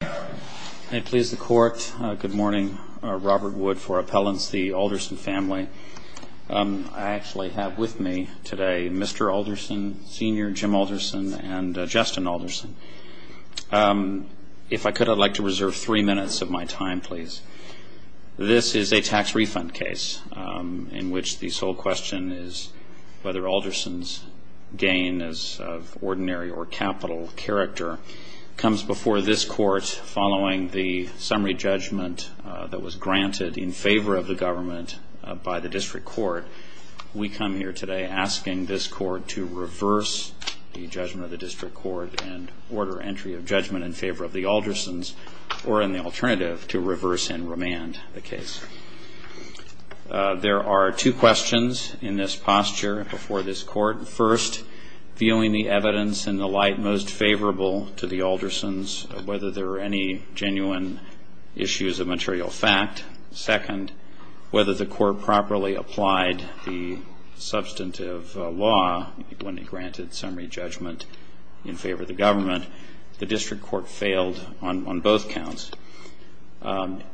I please the Court. Good morning. Robert Wood for Appellants, the Alderson family. I actually have with me today Mr. Alderson, Sr., Jim Alderson, and Justin Alderson. If I could, I'd like to reserve three minutes of my time, please. This is a tax refund case in which the sole question is whether Alderson's gain as of ordinary or capital character comes before this Court following the summary judgment that was granted in favor of the government by the District Court. We come here today asking this Court to reverse the judgment of the District Court and order entry of judgment in favor of the Alderson's or, in the alternative, to reverse and remand the case. There are two questions in this posture before this Court. First, viewing the evidence in the light most favorable to the Alderson's, whether there are any genuine issues of material fact. Second, whether the Court properly applied the substantive law when it granted summary judgment in favor of the government. The District Court failed on both counts.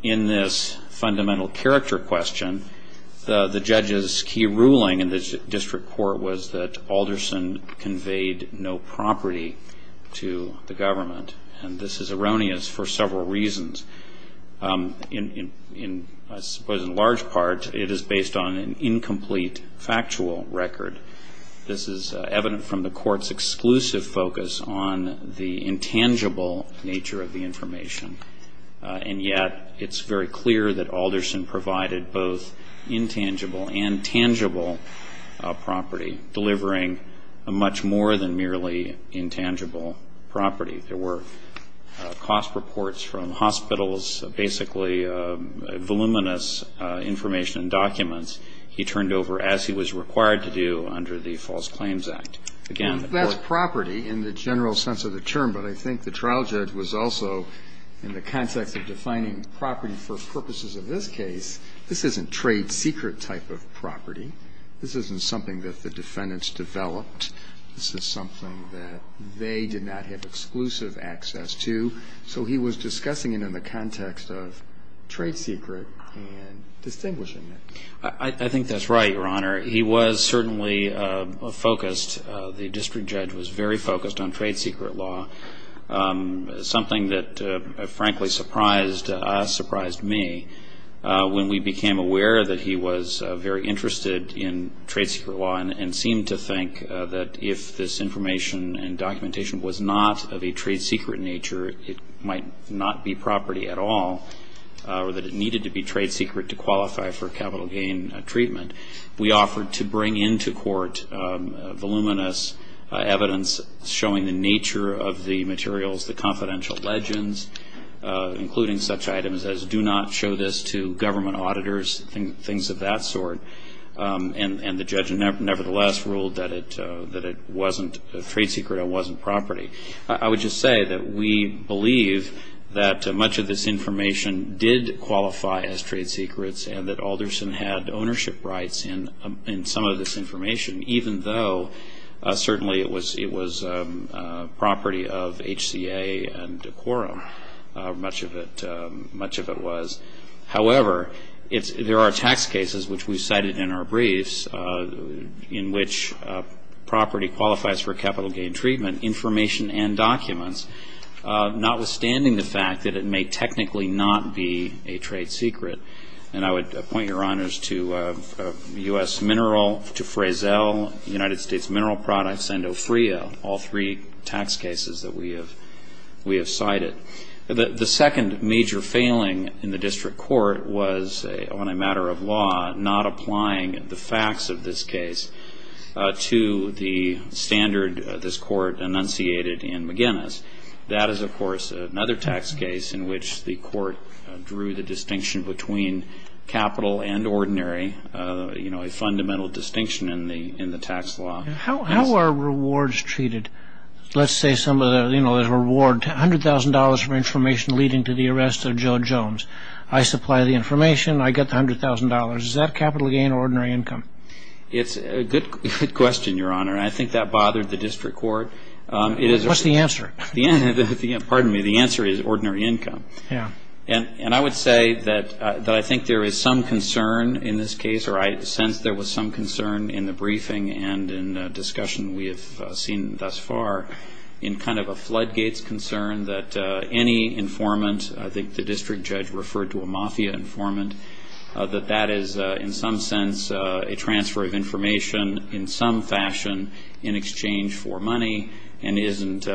In this fundamental character question, the judge's key ruling in the District Court was that Alderson conveyed no property to the government, and this is erroneous for several reasons. I suppose in large part it is based on an incomplete factual record. This is evident from the Court's exclusive focus on the intangible nature of the information, and yet it's very clear that Alderson provided both intangible and tangible property, delivering a much more than merely intangible property. There were cost reports from hospitals, basically voluminous information and documents. He turned over as he was required to do under the False Claims Act. Again, the Court ---- That's property in the general sense of the term, but I think the trial judge was also in the context of defining property for purposes of this case. This isn't trade secret type of property. This isn't something that the defendants developed. This is something that they did not have exclusive access to. So he was discussing it in the context of trade secret and distinguishing it. I think that's right, Your Honor. He was certainly focused, the district judge was very focused on trade secret law. Something that, frankly, surprised us, surprised me, when we became aware that he was very interested in trade secret law and seemed to think that if this information and documentation was not of a trade secret nature, it might not be property at all, or that it needed to be trade secret to qualify for capital gain treatment. We offered to bring into court voluminous evidence showing the nature of the materials, the confidential legends, including such items as, do not show this to government auditors, things of that sort. And the judge nevertheless ruled that it wasn't trade secret and wasn't property. I would just say that we believe that much of this information did qualify as trade secrets and that Alderson had ownership rights in some of this information, even though certainly it was property of HCA and Quorum, much of it was. However, there are tax cases, which we cited in our briefs, in which property qualifies for capital gain treatment information and documents, notwithstanding the fact that it may technically not be a trade secret. And I would point your honors to U.S. Mineral, to Frazell, United States Mineral Products, and Ofria, all three tax cases that we have cited. The second major failing in the district court was, on a matter of law, not applying the facts of this case to the standard this court enunciated in McGinnis. That is, of course, another tax case in which the court drew the distinction between capital and ordinary, a fundamental distinction in the tax law. How are rewards treated? Let's say there's a reward, $100,000 for information leading to the arrest of Joe Jones. I supply the information. I get the $100,000. Is that capital gain or ordinary income? It's a good question, your honor, and I think that bothered the district court. What's the answer? Pardon me. The answer is ordinary income. And I would say that I think there is some concern in this case, or I sense there was some concern in the briefing and in the discussion we have seen thus far, in kind of a floodgates concern that any informant, I think the district judge referred to a mafia informant, that that is in some sense a transfer of information in some fashion in exchange for money and isn't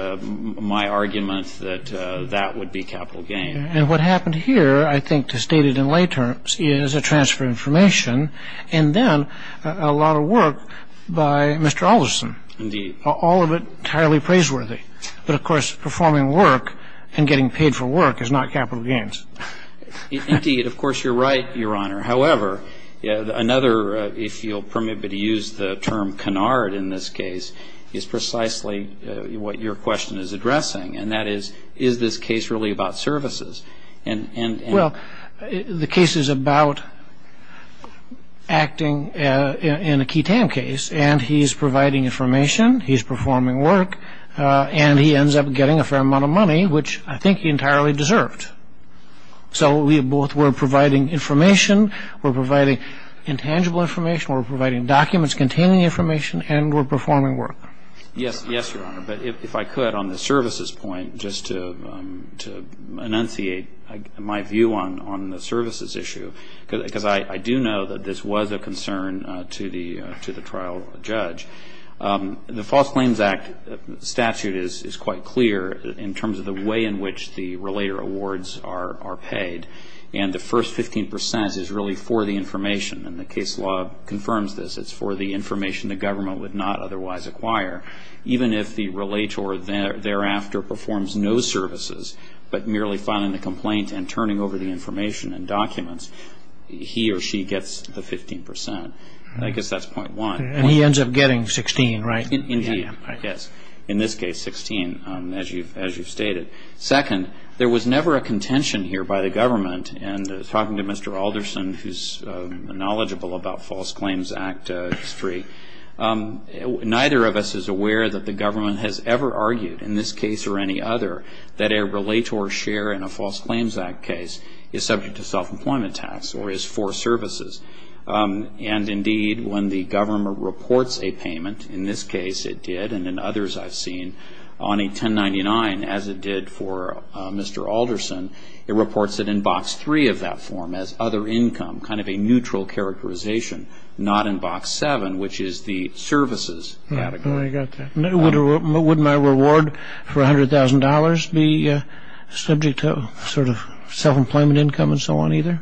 my argument that that would be capital gain. And what happened here, I think, to state it in lay terms, is a transfer of information and then a lot of work by Mr. Alderson. Indeed. All of it entirely praiseworthy. But, of course, performing work and getting paid for work is not capital gains. Indeed. Of course, you're right, your honor. However, another, if you'll permit me to use the term canard in this case, is precisely what your question is addressing, and that is, is this case really about services? Well, the case is about acting in a key TAM case, and he's providing information, he's performing work, and he ends up getting a fair amount of money, which I think he entirely deserved. So we both were providing information, we're providing intangible information, we're providing documents containing information, and we're performing work. Yes, your honor. But if I could, on the services point, just to enunciate my view on the services issue, because I do know that this was a concern to the trial judge. The False Claims Act statute is quite clear in terms of the way in which the relator awards are paid, and the first 15 percent is really for the information, and the case law confirms this. It's for the information the government would not otherwise acquire, even if the relator thereafter performs no services but merely filing the complaint and turning over the information and documents, he or she gets the 15 percent. I guess that's point one. And he ends up getting 16, right? Indeed, yes. In this case, 16, as you've stated. Second, there was never a contention here by the government, and talking to Mr. Alderson, who's knowledgeable about False Claims Act history, neither of us is aware that the government has ever argued, in this case or any other, that a relator share in a False Claims Act case is subject to self-employment tax or is for services. And indeed, when the government reports a payment, in this case it did, and in others I've seen, on a 1099, as it did for Mr. Alderson, it reports it in Box 3 of that form as other income, kind of a neutral characterization, not in Box 7, which is the services category. Would my reward for $100,000 be subject to sort of self-employment income and so on either?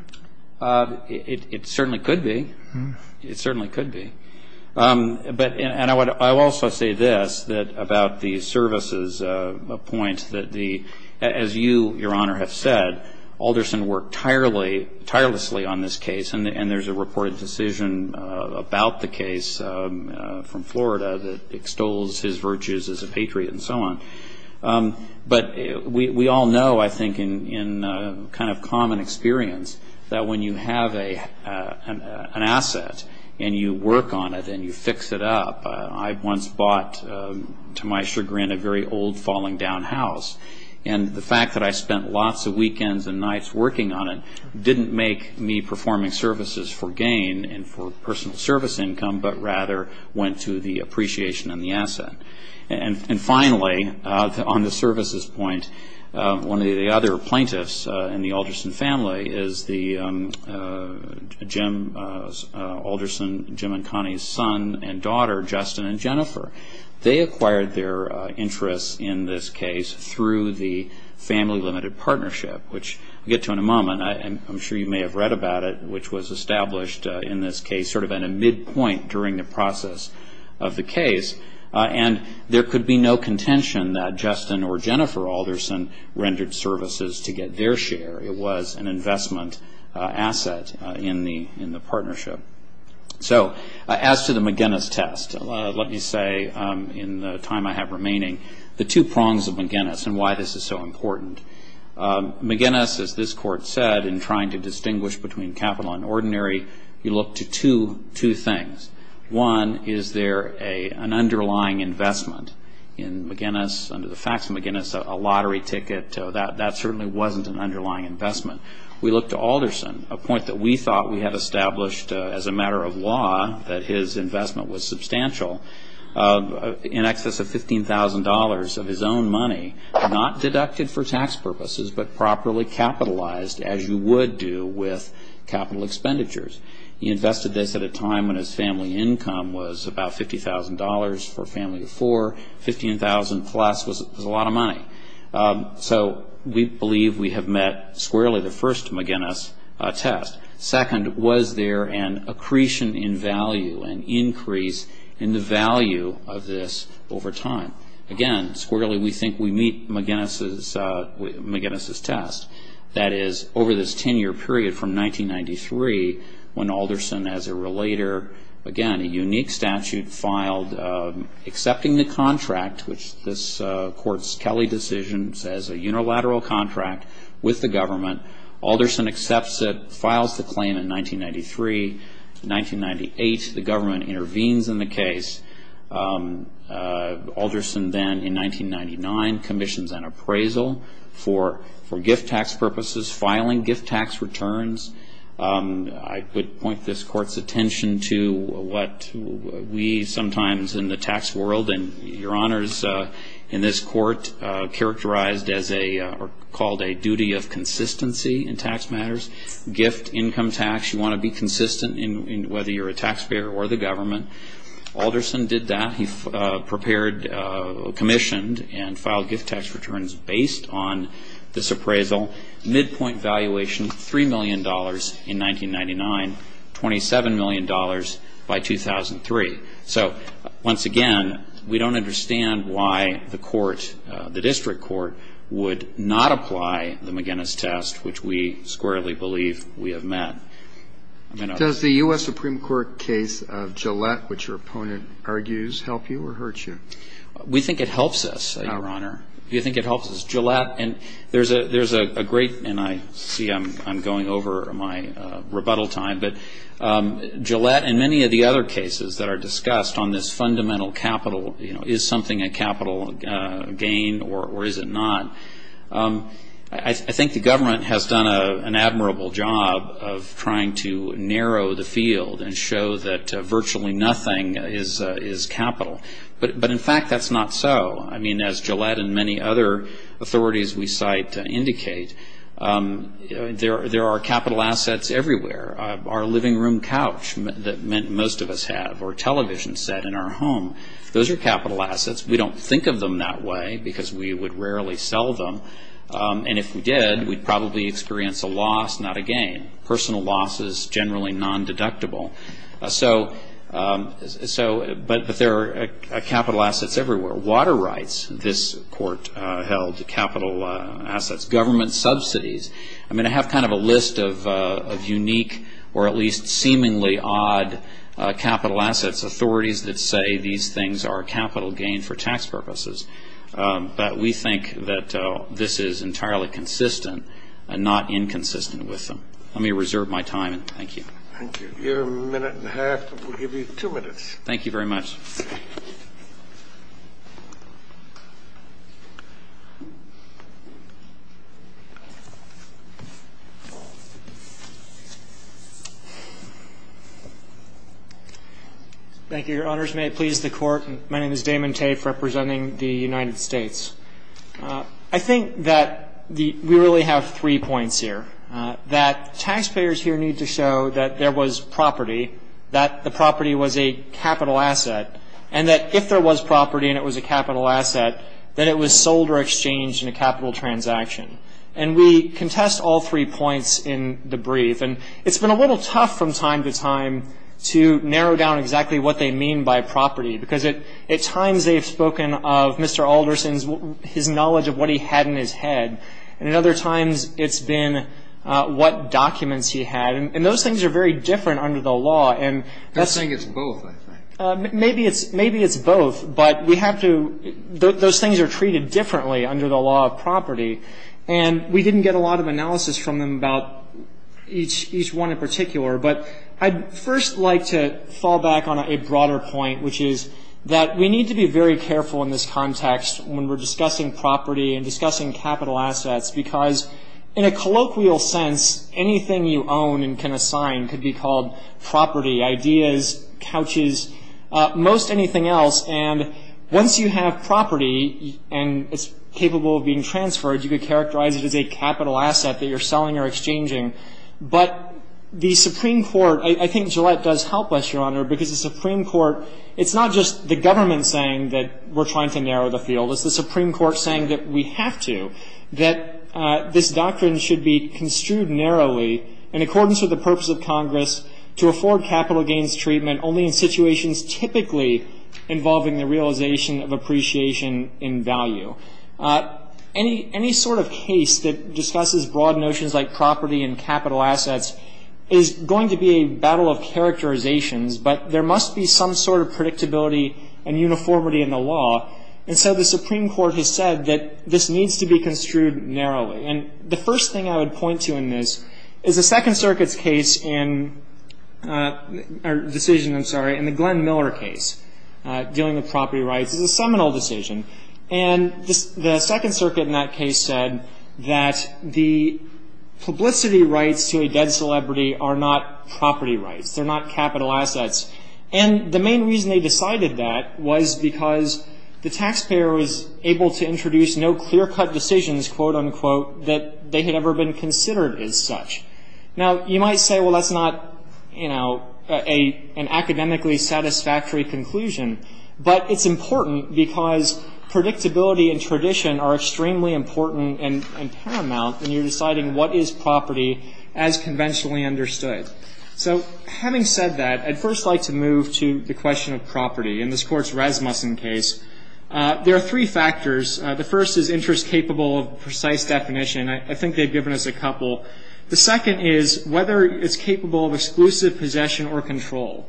It certainly could be. It certainly could be. And I will also say this about the services point, that as you, Your Honor, have said, Alderson worked tirelessly on this case, and there's a reported decision about the case from Florida that extols his virtues as a patriot and so on. But we all know, I think, in kind of common experience, that when you have an asset and you work on it and you fix it up. I once bought, to my chagrin, a very old falling-down house. And the fact that I spent lots of weekends and nights working on it didn't make me performing services for gain and for personal service income, but rather went to the appreciation and the asset. And finally, on the services point, one of the other plaintiffs in the Alderson family is the Alderson, Jim and Connie's son and daughter, Justin and Jennifer. They acquired their interests in this case through the family limited partnership, which we'll get to in a moment. I'm sure you may have read about it, which was established in this case sort of at a midpoint during the process of the case. And there could be no contention that Justin or Jennifer Alderson rendered services to get their share. It was an investment asset in the partnership. So as to the McGinnis test, let me say in the time I have remaining the two prongs of McGinnis and why this is so important. McGinnis, as this Court said, in trying to distinguish between capital and ordinary, you look to two things. One, is there an underlying investment in McGinnis? Under the facts of McGinnis, a lottery ticket, that certainly wasn't an underlying investment. We looked to Alderson, a point that we thought we had established as a matter of law that his investment was substantial, in excess of $15,000 of his own money, not deducted for tax purposes, but properly capitalized as you would do with capital expenditures. He invested this at a time when his family income was about $50,000 for a family of four. $15,000 plus was a lot of money. So we believe we have met squarely the first McGinnis test. Second, was there an accretion in value, an increase in the value of this over time? Again, squarely we think we meet McGinnis' test. That is, over this 10-year period from 1993, when Alderson as a relator, again, a unique statute filed, accepting the contract, which this Court's Kelly decision says a unilateral contract with the government, Alderson accepts it, files the claim in 1993. In 1998, the government intervenes in the case. Alderson then, in 1999, commissions an appraisal for gift tax purposes, filing gift tax returns. I would point this Court's attention to what we sometimes in the tax world, and Your Honors, in this Court, characterized as a, or called a duty of consistency in tax matters. Gift, income tax, you want to be consistent in whether you're a taxpayer or the government. Alderson did that. He prepared, commissioned, and filed gift tax returns based on this appraisal. Midpoint valuation, $3 million in 1999, $27 million by 2003. So, once again, we don't understand why the Court, the District Court, would not apply the McGinnis test, which we squarely believe we have met. Does the U.S. Supreme Court case of Gillette, which your opponent argues, help you or hurt you? We think it helps us, Your Honor. We think it helps us. Gillette, and there's a great, and I see I'm going over my rebuttal time, but Gillette and many of the other cases that are discussed on this fundamental capital, you know, is something a capital gain or is it not? I think the government has done an admirable job of trying to narrow the field and show that virtually nothing is capital. But, in fact, that's not so. I mean, as Gillette and many other authorities we cite indicate, there are capital assets everywhere. Our living room couch that most of us have or television set in our home, those are capital assets. We don't think of them that way because we would rarely sell them. And if we did, we'd probably experience a loss, not a gain. Personal loss is generally non-deductible. But there are capital assets everywhere. Water rights, this Court held capital assets. Government subsidies. I mean, I have kind of a list of unique or at least seemingly odd capital assets, authorities that say these things are capital gain for tax purposes. But we think that this is entirely consistent and not inconsistent with them. Let me reserve my time and thank you. Thank you. You have a minute and a half. We'll give you two minutes. Thank you very much. Thank you, Your Honors. May it please the Court. My name is Damon Tafe representing the United States. I think that we really have three points here, that taxpayers here need to show that there was property, that the property was a capital asset, and that if there was property and it was a capital asset, then it was sold or exchanged in a capital transaction. And we contest all three points in the brief. And it's been a little tough from time to time to narrow down exactly what they mean by property, because at times they've spoken of Mr. Alderson's, his knowledge of what he had in his head, and at other times it's been what documents he had. And those things are very different under the law. I think it's both, I think. Maybe it's both, but we have to, those things are treated differently under the law of property. And we didn't get a lot of analysis from them about each one in particular, but I'd first like to fall back on a broader point, which is that we need to be very careful in this context when we're discussing property and discussing capital assets, because in a colloquial sense, anything you own and can assign could be called property, ideas, couches, most anything else. And once you have property and it's capable of being transferred, you could characterize it as a capital asset that you're selling or exchanging. But the Supreme Court, I think Gillette does help us, Your Honor, because the Supreme Court, it's not just the government saying that we're trying to narrow the field. It's the Supreme Court saying that we have to, that this doctrine should be construed narrowly in accordance with the purpose of Congress to afford capital gains treatment only in situations typically involving the realization of appreciation in value. Any sort of case that discusses broad notions like property and capital assets is going to be a battle of characterizations, but there must be some sort of predictability and uniformity in the law. And so the Supreme Court has said that this needs to be construed narrowly. And the first thing I would point to in this is the Second Circuit's case in, or decision, I'm sorry, in the Glenn Miller case dealing with property rights. It's a seminal decision. And the Second Circuit in that case said that the publicity rights to a dead celebrity are not property rights. They're not capital assets. And the main reason they decided that was because the taxpayer was able to introduce no clear-cut decisions, quote, unquote, that they had ever been considered as such. Now, you might say, well, that's not, you know, an academically satisfactory conclusion, but it's important because predictability and tradition are extremely important and paramount, and you're deciding what is property as conventionally understood. So having said that, I'd first like to move to the question of property. In this Court's Rasmussen case, there are three factors. The first is interest capable of precise definition. I think they've given us a couple. The second is whether it's capable of exclusive possession or control.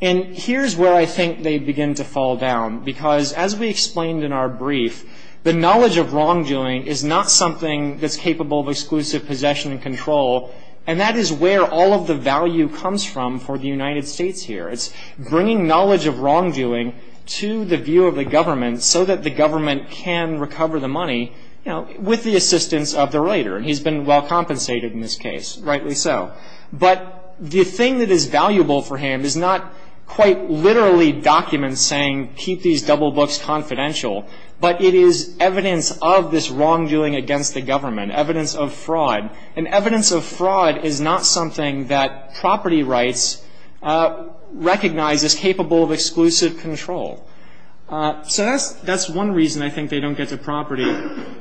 And here's where I think they begin to fall down, because as we explained in our brief, the knowledge of wrongdoing is not something that's capable of exclusive possession and control, and that is where all of the value comes from for the United States here. It's bringing knowledge of wrongdoing to the view of the government so that the government can recover the money, you know, with the assistance of the writer, and he's been well compensated in this case, rightly so. But the thing that is valuable for him is not quite literally documents saying keep these double books confidential, but it is evidence of this wrongdoing against the government, evidence of fraud. And evidence of fraud is not something that property rights recognize as capable of exclusive control. So that's one reason I think they don't get to property.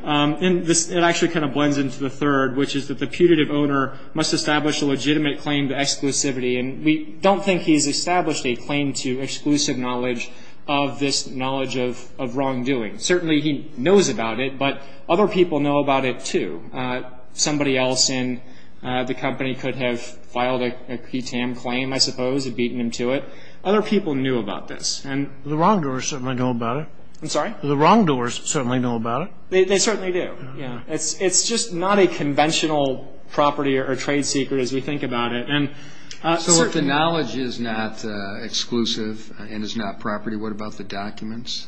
And it actually kind of blends into the third, which is that the putative owner must establish a legitimate claim to exclusivity. And we don't think he's established a claim to exclusive knowledge of this knowledge of wrongdoing. Certainly he knows about it, but other people know about it, too. Somebody else in the company could have filed a PTAM claim, I suppose, and beaten him to it. Other people knew about this. The wrongdoers certainly know about it. I'm sorry? The wrongdoers certainly know about it. They certainly do, yeah. It's just not a conventional property or trade secret as we think about it. So if the knowledge is not exclusive and is not property, what about the documents?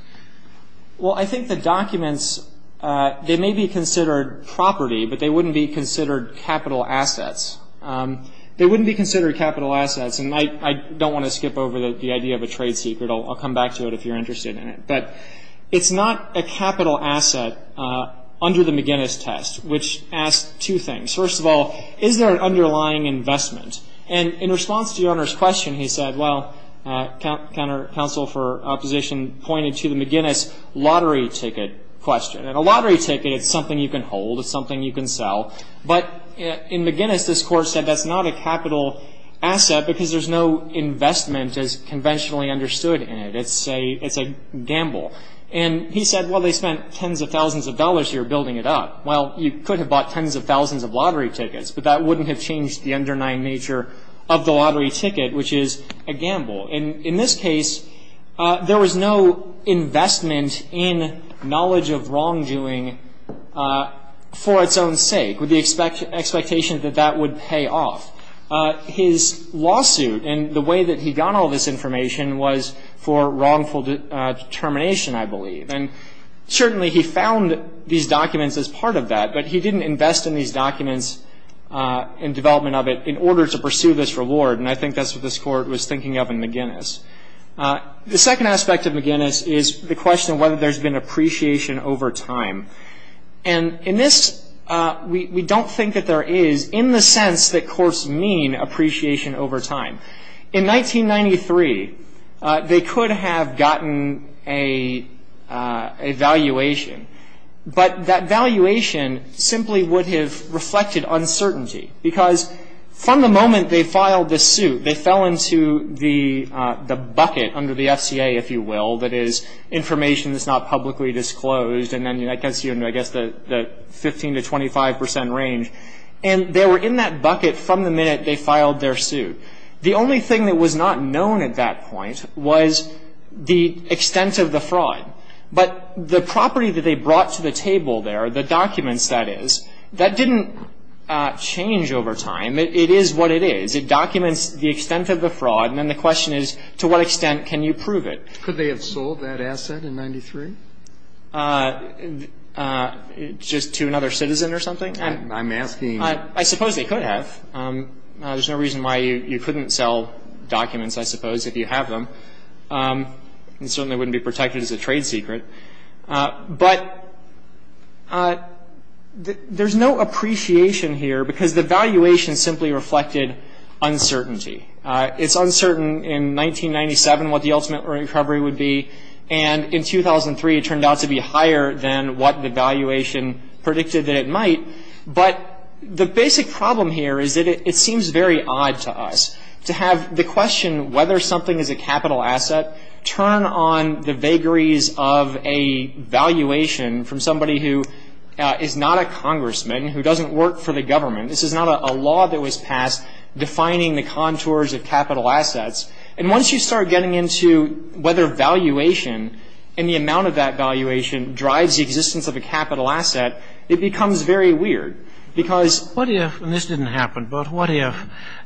Well, I think the documents, they may be considered property, but they wouldn't be considered capital assets. They wouldn't be considered capital assets. And I don't want to skip over the idea of a trade secret. I'll come back to it if you're interested in it. But it's not a capital asset under the McGinnis test, which asks two things. First of all, is there an underlying investment? And in response to Your Honor's question, he said, well, counsel for opposition pointed to the McGinnis lottery ticket question. And a lottery ticket is something you can hold. It's something you can sell. But in McGinnis, this Court said that's not a capital asset because there's no investment as conventionally understood in it. It's a gamble. And he said, well, they spent tens of thousands of dollars here building it up. Well, you could have bought tens of thousands of lottery tickets, but that wouldn't have changed the underlying nature of the lottery ticket, which is a gamble. And in this case, there was no investment in knowledge of wrongdoing for its own sake, with the expectation that that would pay off. His lawsuit and the way that he got all this information was for wrongful determination, I believe. And certainly he found these documents as part of that, but he didn't invest in these documents and development of it in order to pursue this reward. And I think that's what this Court was thinking of in McGinnis. The second aspect of McGinnis is the question of whether there's been appreciation over time. And in this, we don't think that there is, in the sense that courts mean appreciation over time. In 1993, they could have gotten a valuation, but that valuation simply would have reflected uncertainty, because from the moment they filed this suit, they fell into the bucket under the FCA, if you will, that is information that's not publicly disclosed, and then I guess the 15 to 25 percent range. And they were in that bucket from the minute they filed their suit. The only thing that was not known at that point was the extent of the fraud. But the property that they brought to the table there, the documents, that is, that didn't change over time. It is what it is. It documents the extent of the fraud, and then the question is, to what extent can you prove it? Could they have sold that asset in 93? Just to another citizen or something? I'm asking you. I suppose they could have. There's no reason why you couldn't sell documents, I suppose, if you have them. It certainly wouldn't be protected as a trade secret. But there's no appreciation here, because the valuation simply reflected uncertainty. It's uncertain in 1997 what the ultimate recovery would be, and in 2003 it turned out to be higher than what the valuation predicted that it might. But the basic problem here is that it seems very odd to us to have the question whether something is a capital asset turn on the vagaries of a valuation from somebody who is not a congressman, who doesn't work for the government. This is not a law that was passed defining the contours of capital assets. And once you start getting into whether valuation and the amount of that valuation drives the existence of a capital asset, it becomes very weird, because what if, and this didn't happen, but what if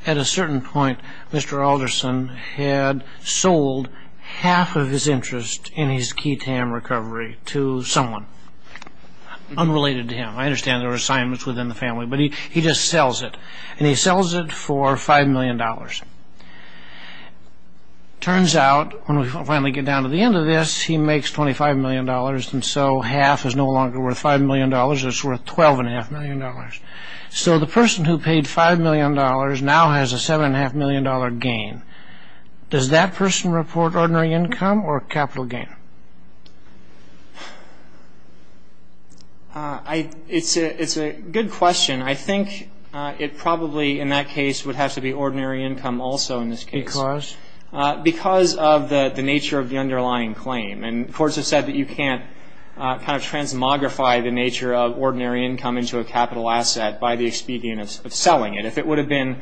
at a certain point Mr. Alderson had sold half of his interest in his key TAM recovery to someone unrelated to him? I understand there were assignments within the family, but he just sells it. And he sells it for $5 million. Turns out, when we finally get down to the end of this, he makes $25 million, and so half is no longer worth $5 million, it's worth $12.5 million. So the person who paid $5 million now has a $7.5 million gain. Does that person report ordinary income or capital gain? It's a good question. I think it probably, in that case, would have to be ordinary income also in this case. Because? Because of the nature of the underlying claim. And courts have said that you can't kind of transmogrify the nature of ordinary income into a capital asset by the expedient of selling it. If it would have been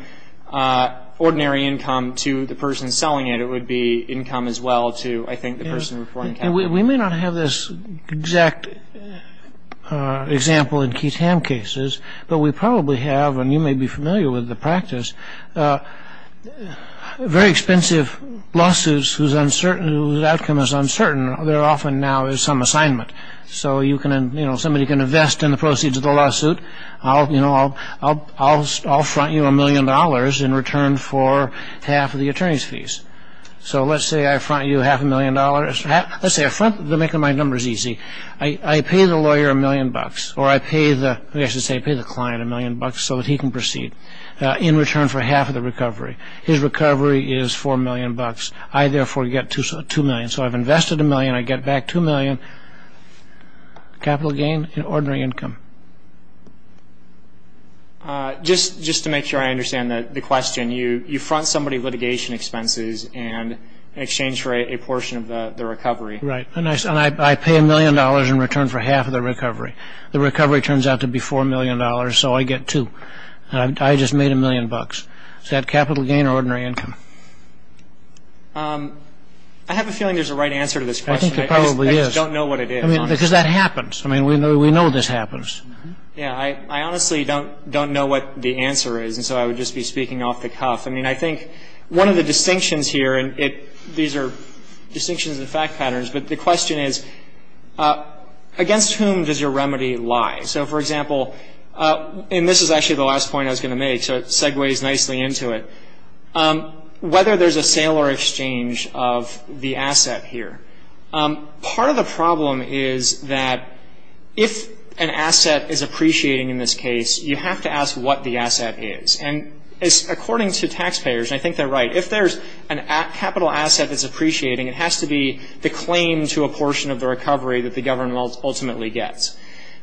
ordinary income to the person selling it, it would be income as well to, I think, the person reporting capital. We may not have this exact example in key TAM cases, but we probably have, and you may be familiar with the practice, very expensive lawsuits whose outcome is uncertain, there often now is some assignment. So somebody can invest in the proceeds of the lawsuit, I'll front you a million dollars in return for half of the attorney's fees. So let's say I front you half a million dollars. Let's say I front, to make my numbers easy, I pay the lawyer a million bucks, or I pay the client a million bucks so that he can proceed in return for half of the recovery. His recovery is four million bucks. I, therefore, get two million. So I've invested a million, I get back two million capital gain in ordinary income. Just to make sure I understand the question, you front somebody litigation expenses in exchange for a portion of the recovery. Right. And I pay a million dollars in return for half of the recovery. The recovery turns out to be four million dollars, so I get two. I just made a million bucks. Is that capital gain or ordinary income? I have a feeling there's a right answer to this question. I think there probably is. I just don't know what it is. Because that happens. I mean, we know this happens. Yeah, I honestly don't know what the answer is, and so I would just be speaking off the cuff. I mean, I think one of the distinctions here, and these are distinctions and fact patterns, but the question is, against whom does your remedy lie? So, for example, and this is actually the last point I was going to make, so it segues nicely into it, whether there's a sale or exchange of the asset here. Part of the problem is that if an asset is appreciating in this case, you have to ask what the asset is. And according to taxpayers, and I think they're right, if there's a capital asset that's appreciating, it has to be the claim to a portion of the recovery that the government ultimately gets.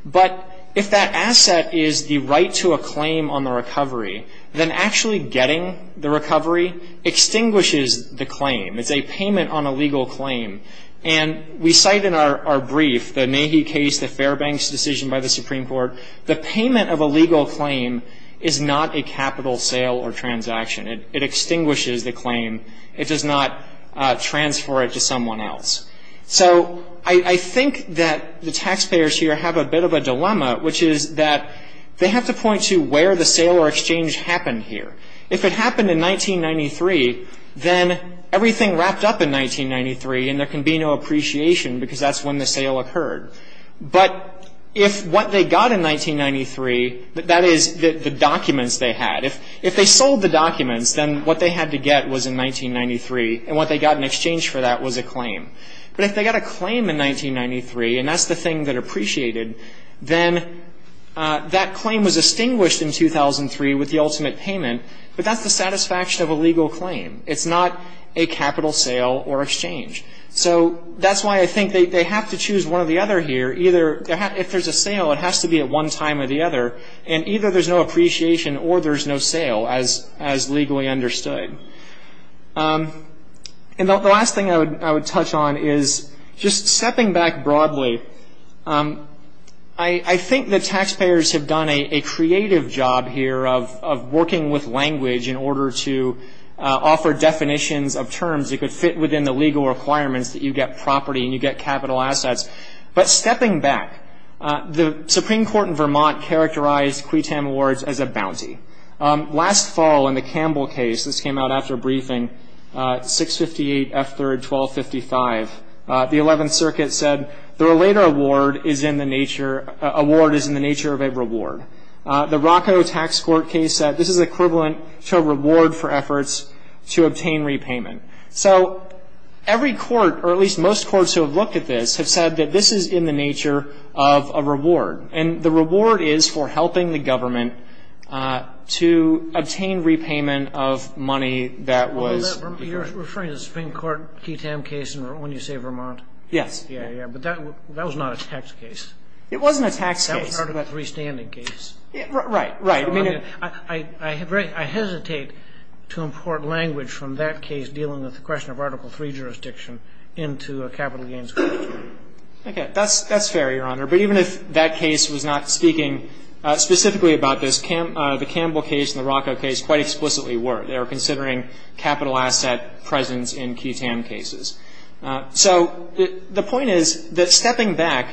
But if that asset is the right to a claim on the recovery, then actually getting the recovery extinguishes the claim. It's a payment on a legal claim. And we cite in our brief, the Nahee case, the Fairbanks decision by the Supreme Court, the payment of a legal claim is not a capital sale or transaction. It extinguishes the claim. It does not transfer it to someone else. So I think that the taxpayers here have a bit of a dilemma, which is that they have to point to where the sale or exchange happened here. If it happened in 1993, then everything wrapped up in 1993, and there can be no appreciation because that's when the sale occurred. But if what they got in 1993, that is the documents they had. If they sold the documents, then what they had to get was in 1993, and what they got in exchange for that was a claim. But if they got a claim in 1993, and that's the thing that appreciated, then that claim was extinguished in 2003 with the ultimate payment, but that's the satisfaction of a legal claim. It's not a capital sale or exchange. So that's why I think they have to choose one or the other here. If there's a sale, it has to be at one time or the other. And either there's no appreciation or there's no sale, as legally understood. And the last thing I would touch on is just stepping back broadly, I think the taxpayers have done a creative job here of working with language in order to offer definitions of terms that could fit within the legal requirements that you get property and you get capital assets. But stepping back, the Supreme Court in Vermont characterized Cuitam Awards as a bounty. Last fall in the Campbell case, this came out after a briefing, 658 F. 3rd, 1255, the Eleventh Circuit said the related award is in the nature of a reward. The Rocco Tax Court case said this is equivalent to a reward for efforts to obtain repayment. So every court, or at least most courts who have looked at this, have said that this is in the nature of a reward. And the reward is for helping the government to obtain repayment of money that was You're referring to the Supreme Court Cuitam case when you say Vermont? Yes. Yeah, yeah. But that was not a tax case. It wasn't a tax case. That was part of a freestanding case. Right, right. I mean, I hesitate to import language from that case dealing with the question of Article III jurisdiction into a capital gains court. Okay. That's fair, Your Honor. But even if that case was not speaking specifically about this, the Campbell case and the Rocco case quite explicitly were. They were considering capital asset presence in Cuitam cases. So the point is that stepping back,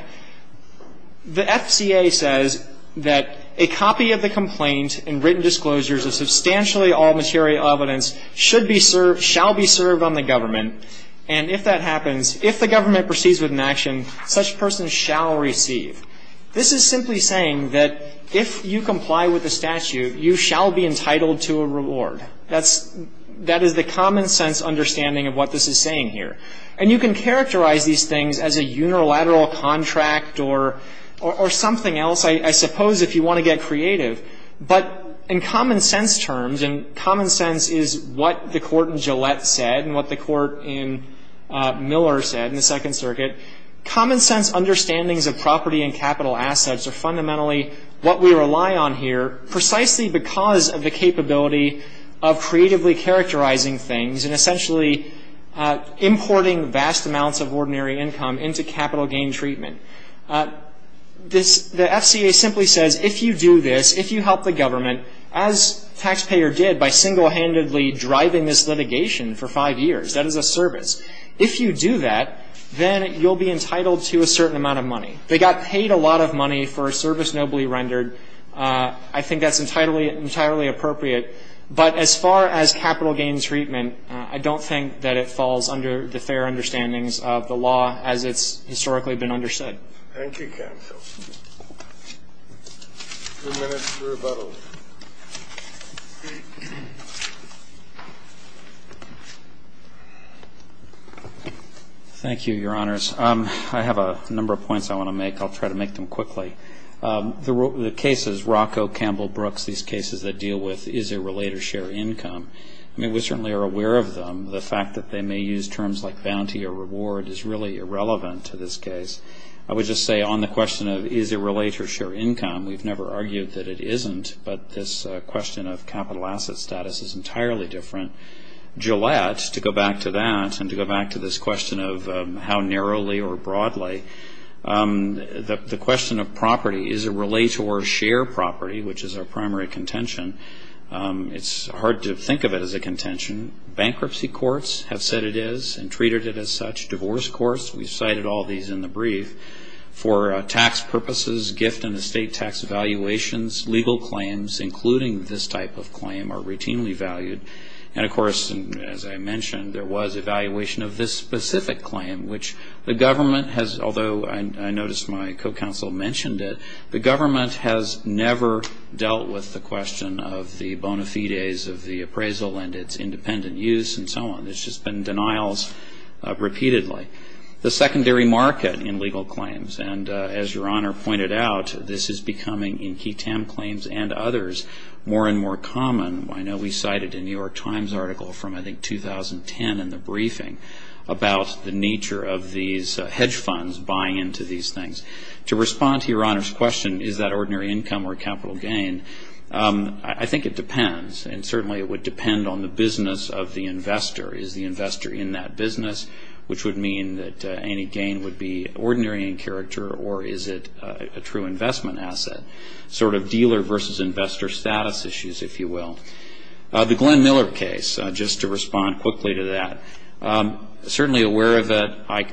the FCA says that a copy of the complaint and written disclosures of substantially all material evidence should be served, shall be served on the government, and if that happens, if the government proceeds with an action, such person shall receive. This is simply saying that if you comply with the statute, you shall be entitled to a reward. That's the common sense understanding of what this is saying here. And you can characterize these things as a unilateral contract or something else, I suppose, if you want to get creative. But in common sense terms, and common sense is what the Court in Gillette said and what the Court in Miller said in the Second Circuit, common sense understandings of property and capital assets are fundamentally what we rely on here precisely because of the capability of creatively characterizing things and essentially importing vast amounts of ordinary income into capital gain treatment. The FCA simply says if you do this, if you help the government, as taxpayer did by single-handedly driving this litigation for five years, that is a service, if you do that, then you'll be entitled to a certain amount of money. They got paid a lot of money for a service nobly rendered. I think that's entirely appropriate. But as far as capital gain treatment, I don't think that it falls under the fair understandings of the law as it's historically been understood. Thank you, counsel. Two minutes for rebuttals. Thank you, Your Honors. I have a number of points I want to make. I'll try to make them quickly. The cases, Rocco, Campbell, Brooks, these cases that deal with is there related share income, I mean, we certainly are aware of them. The fact that they may use terms like bounty or reward is really irrelevant to this case. I would just say on the question of is it related to share income, we've never argued that it isn't, but this question of capital asset status is entirely different. Gillette, to go back to that and to go back to this question of how narrowly or broadly, the question of property, is it related to our share property, which is our primary contention, it's hard to think of it as a contention. Bankruptcy courts have said it is and treated it as such. Divorce courts, we've cited all these in the brief. For tax purposes, gift and estate tax evaluations, legal claims, including this type of claim, are routinely valued. And, of course, as I mentioned, there was evaluation of this specific claim, which the government has, although I noticed my co-counsel mentioned it, the government has never dealt with the question of the bona fides of the appraisal and its independent use and so on. There's just been denials repeatedly. The secondary market in legal claims, and as Your Honor pointed out, this is becoming in key TAM claims and others more and more common. I know we cited a New York Times article from I think 2010 in the briefing about the nature of these hedge funds buying into these things. To respond to Your Honor's question, is that ordinary income or capital gain, I think it depends, and certainly it would depend on the business of the investor. Is the investor in that business, which would mean that any gain would be ordinary in character, or is it a true investment asset, sort of dealer versus investor status issues, if you will. The Glenn Miller case, just to respond quickly to that, certainly aware of it. I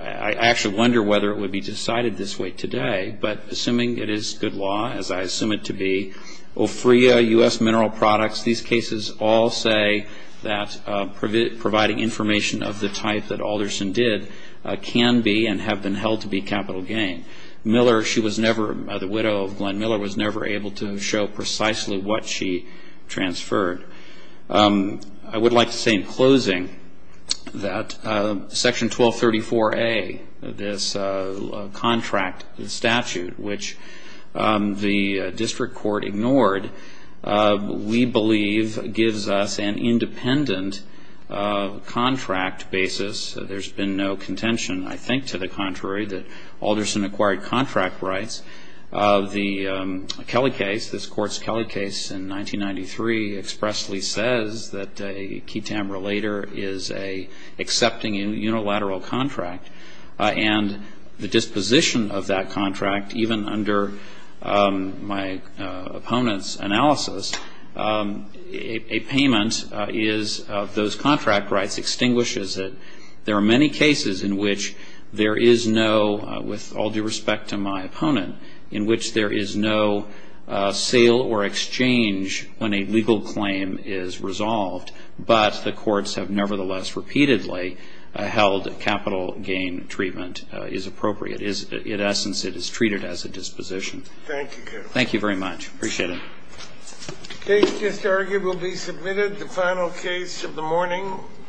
actually wonder whether it would be decided this way today, but assuming it is good law, as I assume it to be, OFREA, U.S. Mineral Products, these cases all say that providing information of the type that Alderson did can be and have been held to be capital gain. Miller, she was never, the widow of Glenn Miller, was never able to show precisely what she transferred. I would like to say in closing that Section 1234A, this contract statute, which the district court ignored, we believe gives us an independent contract basis. There's been no contention, I think, to the contrary, that Alderson acquired contract rights. The Kelly case, this Court's Kelly case in 1993, expressly says that a key tamber later is an accepting unilateral contract, and the disposition of that contract, even under my opponent's analysis, a payment of those contract rights extinguishes it. There are many cases in which there is no, with all due respect to my opponent, in which there is no sale or exchange when a legal claim is resolved, but the courts have nevertheless repeatedly held that capital gain treatment is appropriate. In essence, it is treated as a disposition. Thank you. Thank you very much. Appreciate it. The case just argued will be submitted. The final case of the morning.